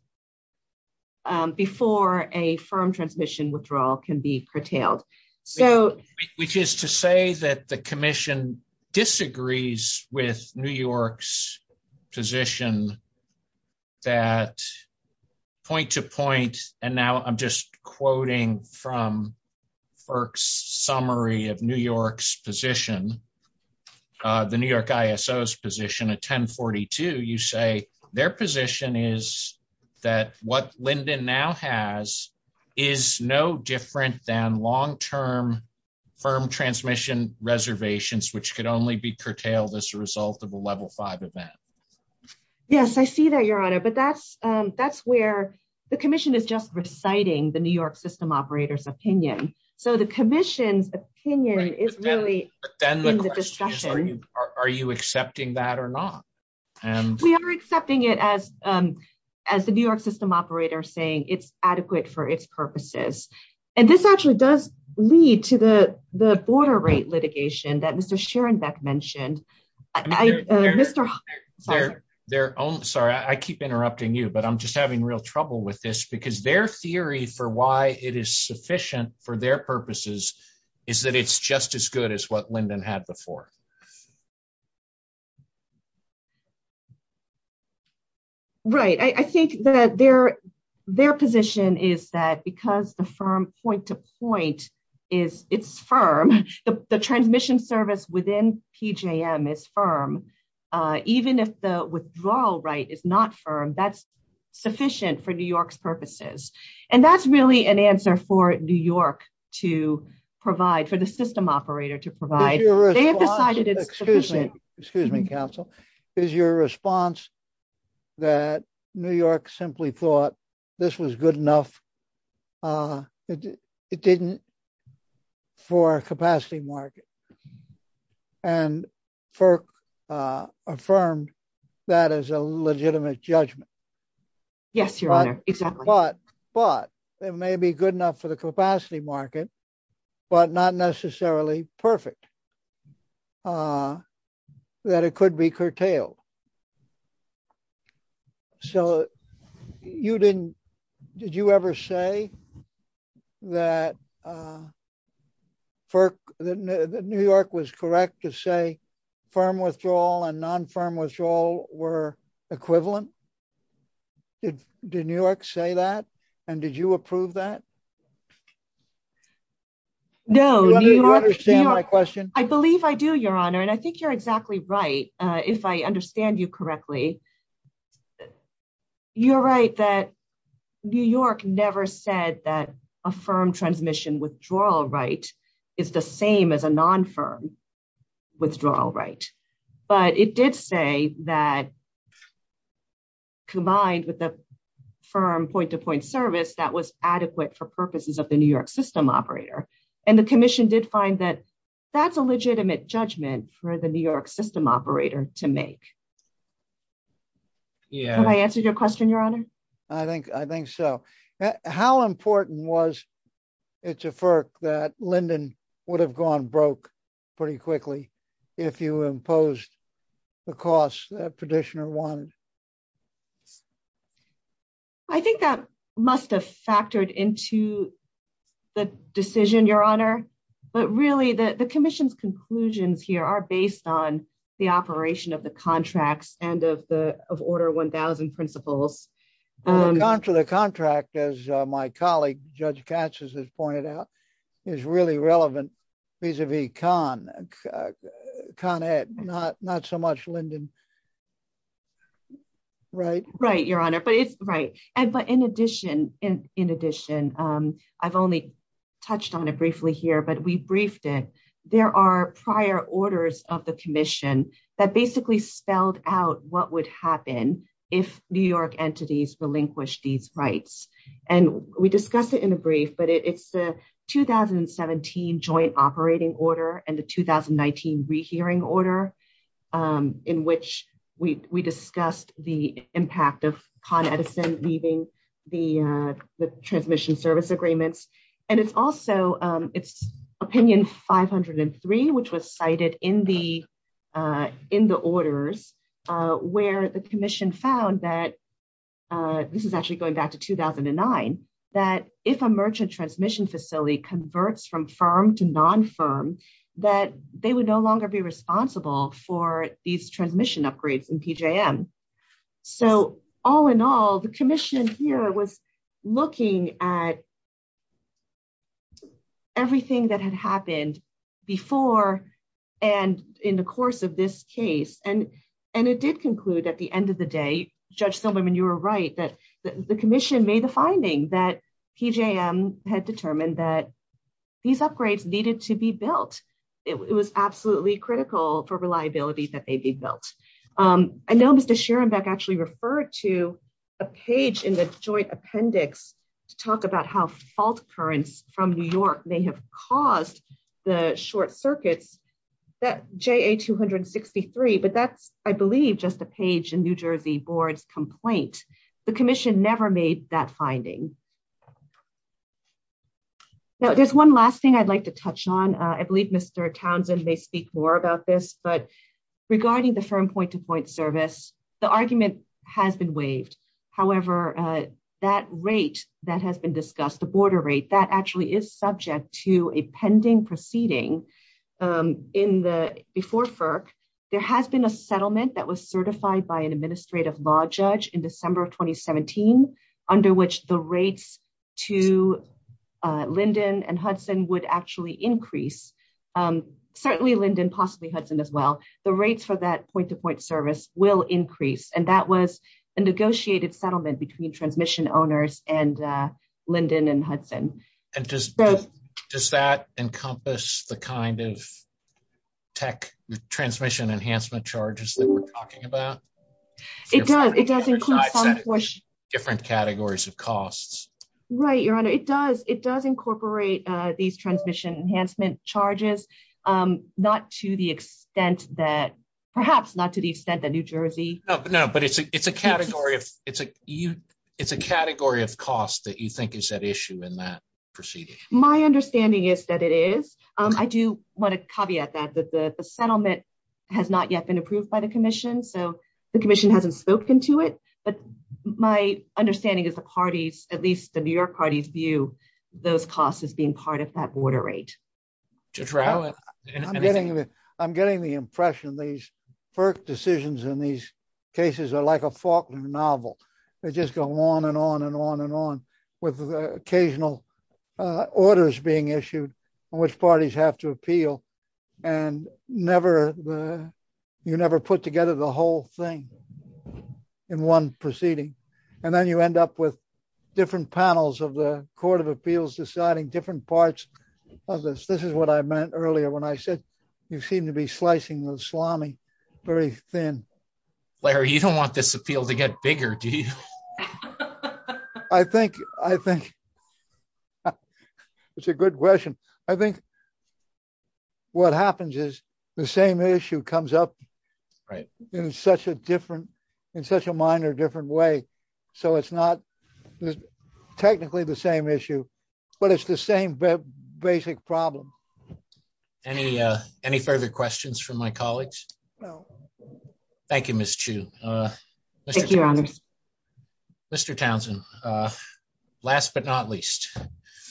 before a firm transmission withdrawal can be curtailed. So- Which is to say that the commission disagrees with New York's position that point-to-point, and now I'm just quoting from FERC's summary of New York's position, the New York ISO's position at 1042, you say their position is that what Linden now has is no different than long-term firm transmission reservations, which could only be curtailed as a result of a level five event. Yes, I see that, Your Honor, but that's where the commission is just reciting the New York system operator's opinion. So the commission's opinion is really- But then the question is, are you accepting that or not? And- We are accepting it as the New York system operator saying it's adequate for its purposes. And this actually does lead to the border rate litigation that Mr. Schoenbeck mentioned. Mr. Hoffman- Sorry, I keep interrupting you, but I'm just having real trouble with this, because their theory for why it is sufficient for their purposes is that it's just as good as what Linden had before. Right. I think that their position is that because the firm point-to-point is firm, the transmission service within PJM is firm, even if the withdrawal right is not firm, that's sufficient for New York's purposes. And that's really an answer for to provide, for the system operator to provide. They have decided it's sufficient. Excuse me, counsel. Is your response that New York simply thought this was good enough for a capacity market and FERC affirmed that as a legitimate judgment? Yes, Your Honor, exactly. But it may be good enough for the capacity market, but not necessarily perfect, that it could be curtailed. So you didn't, did you ever say that FERC, that New York was correct to say firm withdrawal and non-firm withdrawal were equivalent? Did New York say that? And did you approve that? No. Do you understand my question? I believe I do, Your Honor. And I think you're exactly right, if I understand you correctly. You're right that New York never said that a firm transmission withdrawal right is the same as a non-firm withdrawal right. But it did say that combined with the firm point-to-point service, that was adequate for purposes of the New York system operator. And the commission did find that that's a legitimate judgment for the New York system operator to make. Have I answered your question, Your Honor? I think so. How important was it to FERC that Linden would have gone broke pretty quickly if you imposed the costs that petitioner wanted? I think that must have factored into the decision, Your Honor. But really the commission's conclusions here are based on the operation of the contracts and of the Order 1000 principles. The contract, as my colleague, Judge Katz has pointed out, is really relevant vis-a-vis Con Ed. Not so much Linden. Right? Right, Your Honor. But in addition, I've only touched on it briefly here, but we briefed there are prior orders of the commission that basically spelled out what would happen if New York entities relinquish these rights. And we discussed it in a brief, but it's the 2017 joint operating order and the 2019 rehearing order in which we discussed the impact of Con Opinion 503, which was cited in the orders, where the commission found that, this is actually going back to 2009, that if a merchant transmission facility converts from firm to non-firm, that they would no longer be responsible for these transmission upgrades in PJM. So all in all, the commission here was looking at everything that had happened before and in the course of this case. And it did conclude at the end of the day, Judge Silberman, you were right, that the commission made the finding that PJM had determined that these upgrades needed to be built. It was absolutely critical for reliability that they be built. I know Mr. Schierenbeck actually referred to a page in the joint appendix to talk about how fault currents from New York may have caused the short circuits, that JA263, but that's, I believe, just a page in New Jersey board's complaint. The commission never made that finding. Now, there's one last thing I'd like to touch on. I believe Mr. Townsend may speak more about this, but regarding the firm point-to-point service, the argument has been waived. However, that rate that has been discussed, the border rate, that actually is subject to a pending proceeding before FERC. There has been a settlement that was certified by an administrative law judge in December of 2017, under which the rates to certainly Linden, possibly Hudson as well, the rates for that point-to-point service will increase. That was a negotiated settlement between transmission owners and Linden and Hudson. Does that encompass the kind of tech transmission enhancement charges that we're talking about? It does. It does include different categories of costs. Right, Your Honor. It does incorporate these transmission enhancement charges, not to the extent that, perhaps not to the extent that New Jersey- No, but it's a category of cost that you think is at issue in that proceeding. My understanding is that it is. I do want to caveat that the settlement has not yet been approved by the commission, so the commission hasn't spoken to it, but my understanding is at least the New York parties view those costs as being part of that border rate. I'm getting the impression these first decisions in these cases are like a Faulkner novel. They just go on and on and on and on with the occasional orders being issued on which parties have to appeal and you never put together the whole thing in one proceeding. Then you end up with different panels of the Court of Appeals deciding different parts of this. This is what I meant earlier when I said you seem to be slicing the salami very thin. Larry, you don't want this appeal to get bigger, do you? I think it's a good question. I think what happens is the same issue comes up in such a minor different way. It's not technically the same issue, but it's the same basic problem. Any further questions from my colleagues? Thank you, Ms. Chu. Mr. Townsend, last but not least.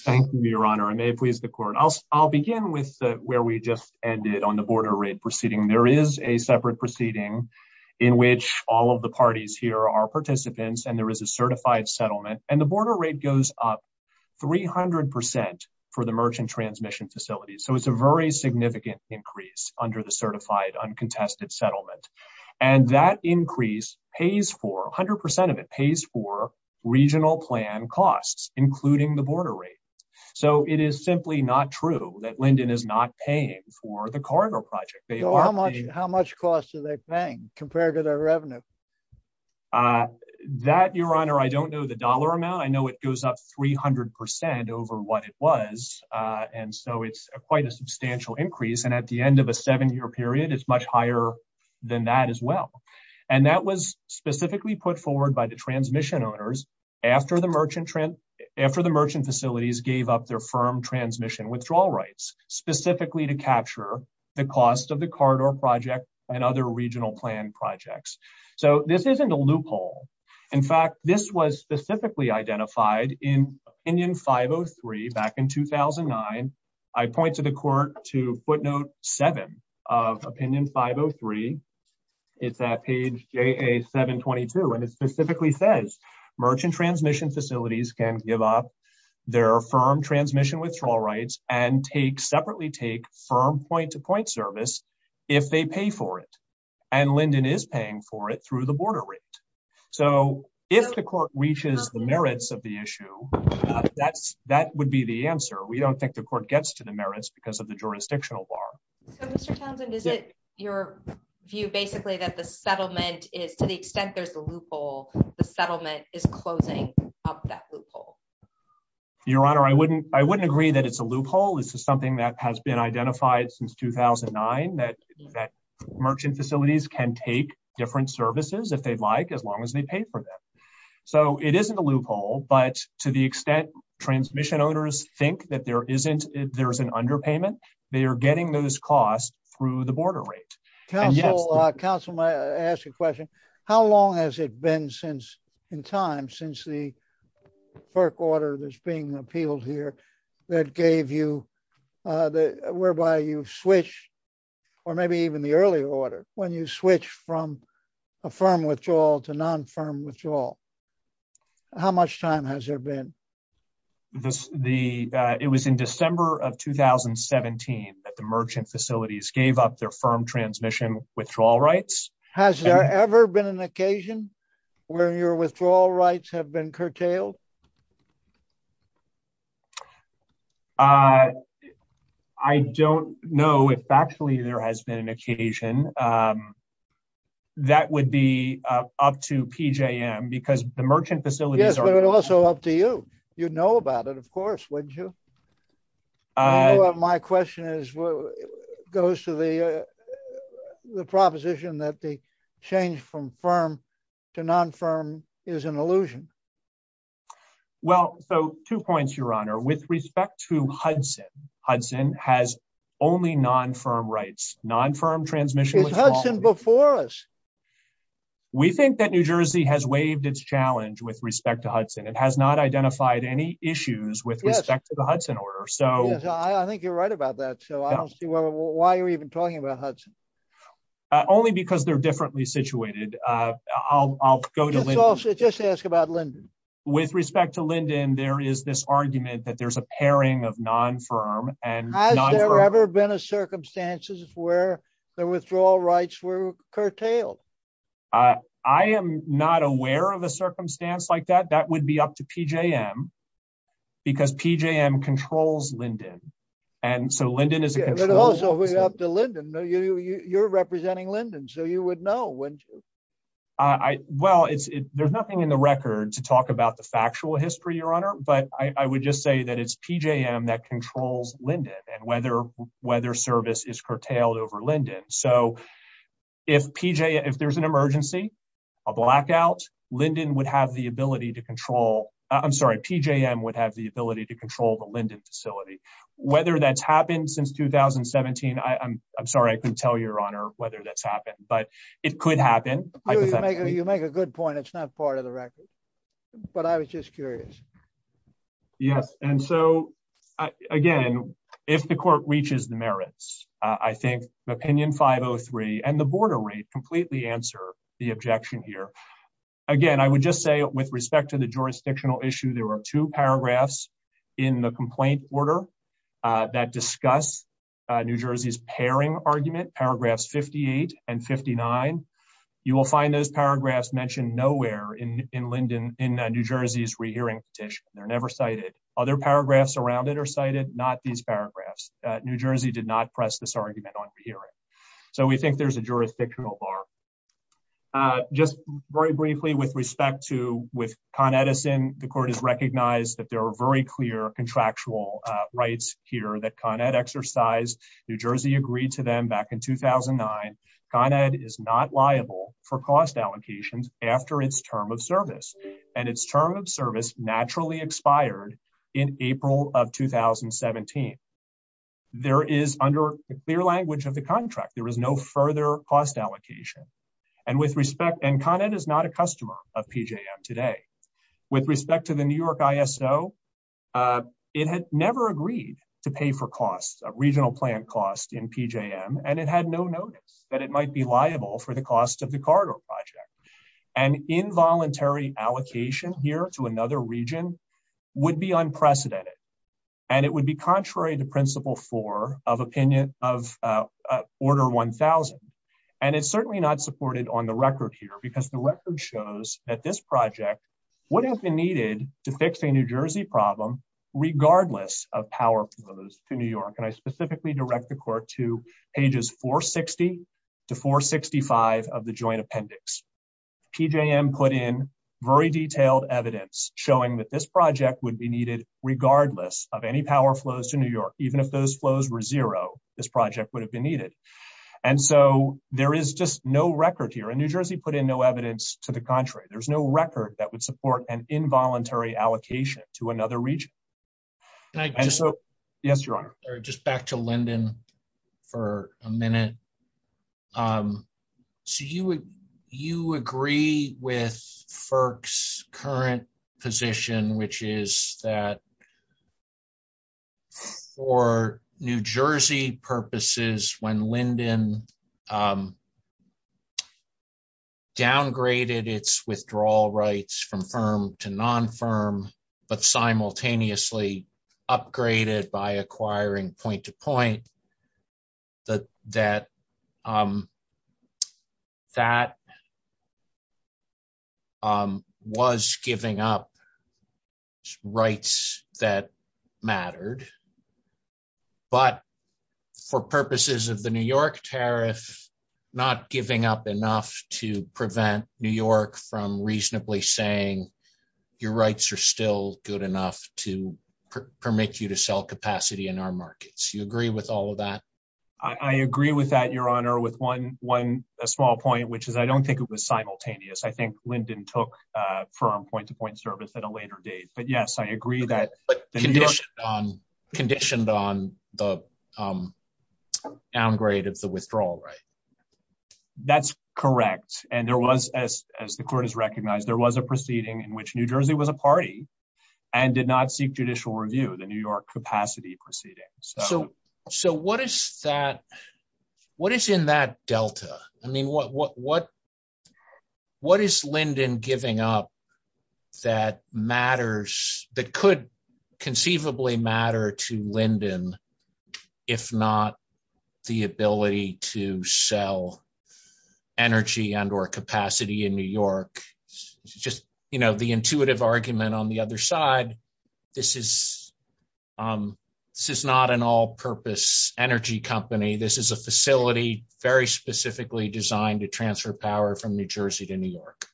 Thank you, Your Honor. I may please the Court. I'll begin with where we just ended on the border proceeding. There is a separate proceeding in which all of the parties here are participants and there is a certified settlement. The border rate goes up 300% for the merchant transmission facilities. It's a very significant increase under the certified uncontested settlement. That increase, 100% of it, pays for regional plan costs, including the border rate. It is simply not true that Linden is not paying for the corridor project. How much cost are they paying compared to their revenue? That, Your Honor, I don't know the dollar amount. I know it goes up 300% over what it was, and so it's quite a substantial increase. At the end of a seven-year period, it's much higher than that as well. That was specifically put forward by the transmission owners after the merchant facilities gave up their firm transmission withdrawal rights, specifically to capture the cost of the corridor project and other regional plan projects. So this isn't a loophole. In fact, this was specifically identified in Opinion 503 back in 2009. I point to the Court to footnote seven of Opinion 503. It's at page JA-722, and it states that merchant transmission facilities can give up their firm transmission withdrawal rights and separately take firm point-to-point service if they pay for it. Linden is paying for it through the border rate. If the Court reaches the merits of the issue, that would be the answer. We don't think the Court gets to the merits because of the jurisdictional bar. Mr. Townsend, is it your view basically that the settlement is, to the extent there's a loophole, the settlement is closing up that loophole? Your Honor, I wouldn't agree that it's a loophole. This is something that has been identified since 2009, that merchant facilities can take different services if they'd like as long as they pay for them. So it isn't a loophole, but to the extent transmission owners think that there's an underpayment, they are getting those costs through the border rate. Counsel, may I ask a question? How long has it been since, in time, since the FERC order that's being appealed here that gave you, whereby you switch, or maybe even the earlier order, when you switch from a firm withdrawal to non-firm withdrawal, how much time has there been? It was in December of 2017 that the merchant facilities gave up their firm transmission withdrawal rights. Has there ever been an occasion where your withdrawal rights have been curtailed? I don't know if actually there has been an occasion. That would be up to PJM, because the merchant facilities are- Yes, but it's also up to you. You'd know about it, of course, wouldn't you? My question is, goes to the proposition that the change from firm to non-firm is an illusion. Well, so two points, your honor. With respect to Hudson, Hudson has only non-firm rights. Non-firm transmission- Is Hudson before us? We think that New Jersey has waived its challenge with respect to Hudson. It has not identified any issues with respect to the Hudson order. Yes, I think you're right about that. So, I don't see why you're even talking about Hudson. Only because they're differently situated. I'll go to- Just ask about Linden. With respect to Linden, there is this argument that there's a pairing of non-firm and non-firm- Has there ever been a circumstances where the withdrawal rights were curtailed? I am not aware of a circumstance like that. That would be up to PJM, because PJM controls Linden. And so, Linden is a- But also, it would be up to Linden. You're representing Linden, so you would know, wouldn't you? Well, there's nothing in the record to talk about the factual history, your honor, but I would just say that it's PJM that controls Linden and whether service is curtailed over Linden. So, if there's an emergency, a blackout, PJM would have the ability to control the Linden facility. Whether that's happened since 2017, I'm sorry, I couldn't tell you, your honor, whether that's happened, but it could happen. You make a good point. It's not part of the record, but I was just curious. Yes. And so, again, if the court reaches the merits, I think the opinion 503 and the border rate completely answer the objection here. Again, I would just say with respect to the jurisdictional issue, there were two paragraphs in the complaint order that discuss New Jersey's pairing argument, paragraphs 58 and 59. You will find those paragraphs mentioned nowhere in Linden, in New Jersey's re-hearing petition. They're never cited. Other paragraphs around it are cited, not these paragraphs. New Jersey did not press this argument on re-hearing. So, we think there's a jurisdictional bar. Just very briefly with respect to Con Edison, the court has recognized that there are very clear contractual rights here that Con Ed exercised. New Jersey agreed to them back in 2009. Con Ed is not liable for cost allocations after its term of service, and its term of service naturally expired in April of 2017. There is, under clear language of the contract, there is further cost allocation. Con Ed is not a customer of PJM today. With respect to the New York ISO, it had never agreed to pay for regional plant costs in PJM, and it had no notice that it might be liable for the cost of the corridor project. An involuntary allocation here to another region would be unprecedented, and it would be contrary to principle four of opinion of order 1000. And it's certainly not supported on the record here, because the record shows that this project would have been needed to fix a New Jersey problem regardless of power flows to New York. And I specifically direct the court to pages 460 to 465 of the joint appendix. PJM put in very detailed evidence showing that this project would be needed regardless of any power flows to New York. Even if those flows were zero, this project would have been needed. And so there is just no record here, and New Jersey put in no evidence to the contrary. There's no record that would support an involuntary allocation to another region. Yes, Your Honor. Just back to Lyndon for a minute. So you agree with FERC's current position, which is that for New Jersey purposes, when Lyndon downgraded its withdrawal rights from firm to non-firm, but simultaneously upgraded by a third, but for purposes of the New York tariff, not giving up enough to prevent New York from reasonably saying your rights are still good enough to permit you to sell capacity in our markets. You agree with all of that? I agree with that, Your Honor, with one small point, which is I don't think it was simultaneous. I think Lyndon took firm point-to-point service at a later date. But yes, I agree that conditioned on the downgrade of the withdrawal right. That's correct. And there was, as the court has recognized, there was a proceeding in which New Jersey was a party and did not seek judicial review, the New York capacity proceeding. So what is in that delta? I mean, what is Lyndon giving up that matters, that could conceivably matter to Lyndon, if not the ability to sell energy and or capacity in New York? Just the intuitive argument on the other side, this is not an all-purpose energy company. This is a facility very specifically designed to transfer power from New Jersey to New York.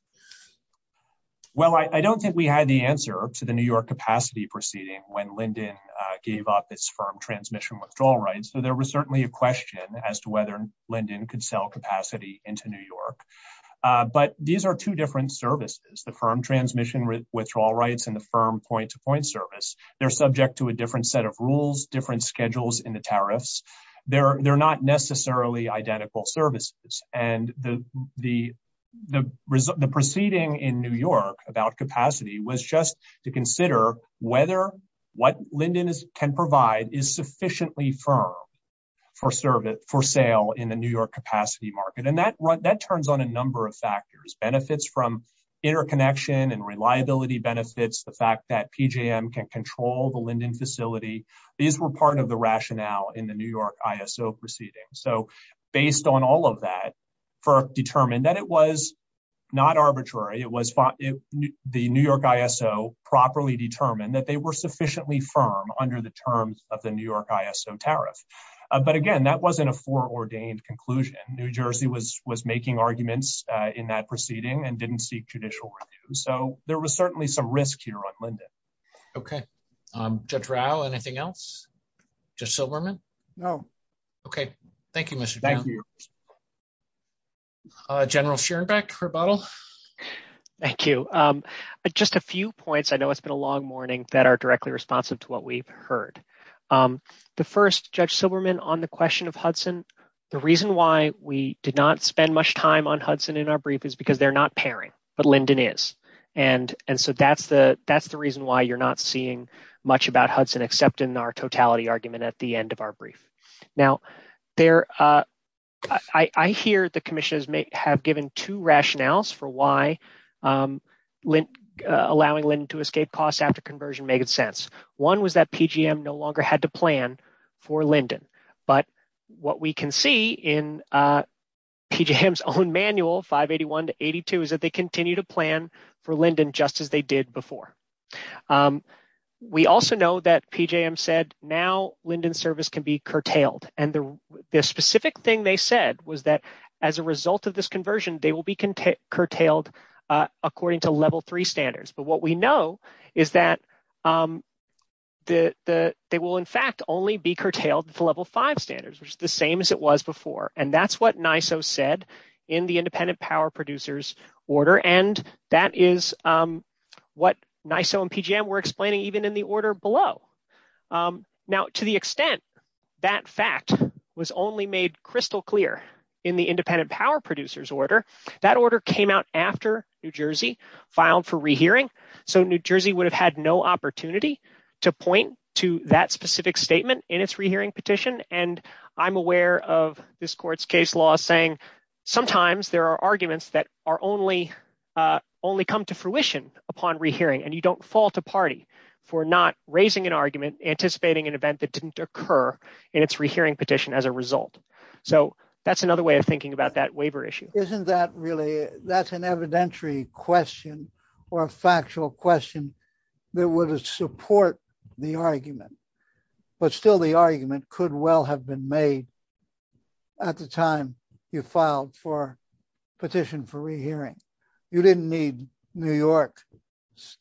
Well, I don't think we had the answer to the New York capacity proceeding when Lyndon gave up its firm transmission withdrawal rights. So there was certainly a question as to whether Lyndon could sell capacity into New York. But these are two different services, the firm transmission withdrawal rights and the firm point-to-point service. They're subject to a different set of rules, different schedules in the tariffs. They're not necessarily identical services. And the proceeding in New York about capacity was just to consider whether what Lyndon can provide is sufficiently firm for sale in the New York capacity market. And that turns on a number of factors, benefits from interconnection and reliability benefits, the fact that PJM can control the Lyndon facility. These were part of the rationale in the New York ISO proceeding. So based on all of that, determined that it was not arbitrary, the New York ISO properly determined that they were sufficiently firm under the terms of the New York ISO tariff. But again, that wasn't a foreordained conclusion. New Jersey was making arguments in that proceeding and didn't seek judicial review. So there was certainly some risk here on Lyndon. Okay. Judge Rao, anything else? Judge Silberman? No. Okay. Thank you, Mr. Chairman. General Schierenbeck, rebuttal? Thank you. Just a few points. I know it's been a long morning that are directly responsive to what we've heard. The first, Judge Silberman, on the question of Hudson, the reason why we did not spend much time on Hudson in our brief is because they're not pairing, but Lyndon is. And so that's the reason why you're not seeing much about Hudson except in our totality argument at the end of our brief. Now, I hear the commissioners may have given two rationales for why allowing Lyndon to escape costs after conversion made sense. One was that PJM no longer had to plan for Lyndon. But what we can see in PJM's own manual, 581 to 82, is that they continue to plan for Lyndon just as they did before. We also know that PJM said now Lyndon's service can be curtailed. And the specific thing they said was that as a result of this conversion, they will be curtailed according to level three standards. But what we know is that they will in fact only be curtailed to level five standards, which is the same as it was before. And that's what NISO said in the independent power producers order. And that is what NISO and PJM were explaining even in the order below. Now, to the extent that fact was only made crystal clear in the independent power producers order, that order came out after New Jersey filed for rehearing. So New Jersey would have had no opportunity to point to that specific statement in its rehearing petition. And I'm aware of this court's case law saying sometimes there are arguments that only come to fruition upon rehearing. And you don't fault a party for not raising an argument anticipating an event that didn't occur in its rehearing petition as a result. So that's another way of thinking about that waiver issue. Isn't that really, that's an evidentiary question or a factual question that would support the argument, but still the argument could well have been made at the time you filed for petition for rehearing. You didn't need New York,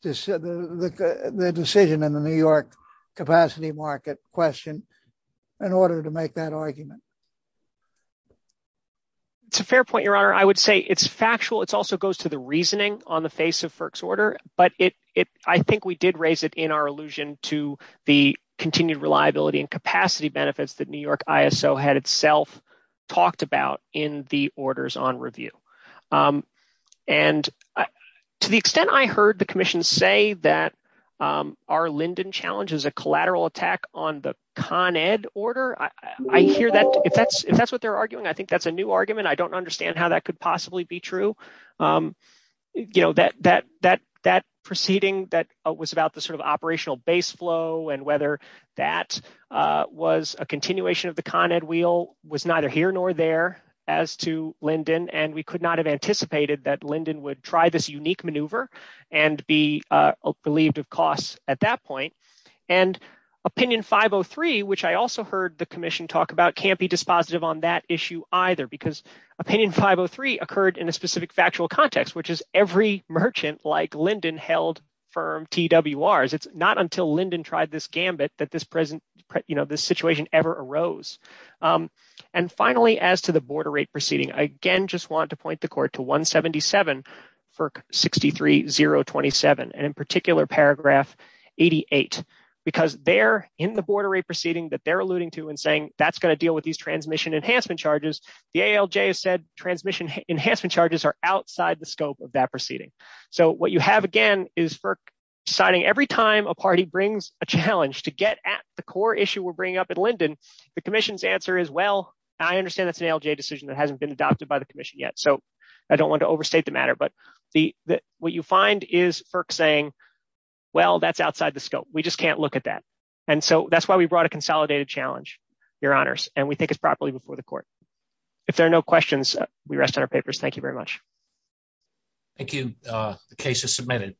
the decision in the New York capacity market question in order to make that argument. It's a fair point, your honor. I would say it's factual. It's also goes to the reasoning on the face of FERC's order, but I think we did raise it in our allusion to the continued reliability and capacity benefits that New York ISO had itself talked about in the orders on review. And to the extent I heard the commission say that our Linden challenge is a collateral attack on the Con Ed order. I hear that if that's what they're arguing, I think that's a new argument. I don't understand how that could possibly be true. That proceeding that was about the sort of operational base flow and whether that was a continuation of the Con Ed wheel was neither here nor there as to Linden. And we could not have anticipated that Linden would try this unique maneuver and be believed of costs at that point. And opinion 503, which I also heard the commission talk about can't be dispositive on that issue either because opinion 503 occurred in a specific factual context, which is every merchant like Linden held firm TWRs. It's not until Linden tried this gambit that this situation ever arose. And finally, as to the border rate proceeding, I again just want to point the court to 177 FERC 63027 and in particular paragraph 88, because they're in the border rate proceeding that they're alluding to and saying that's going to deal with these transmission enhancement charges, the ALJ has said transmission enhancement charges are outside the scope of that proceeding. So what you have again is FERC deciding every time a party brings a challenge to get at the core issue we're bringing up at Linden, the commission's answer is, well, I understand that's an ALJ decision that hasn't been adopted by the commission yet. So I don't want to overstate the matter, but what you find is FERC saying, well, that's outside the scope. We just can't look at that. And so that's why we brought a consolidated challenge, Your Honors, and we think it's properly before the court. If there are no questions, we rest on our papers. Thank you very much. Thank you. The case is submitted.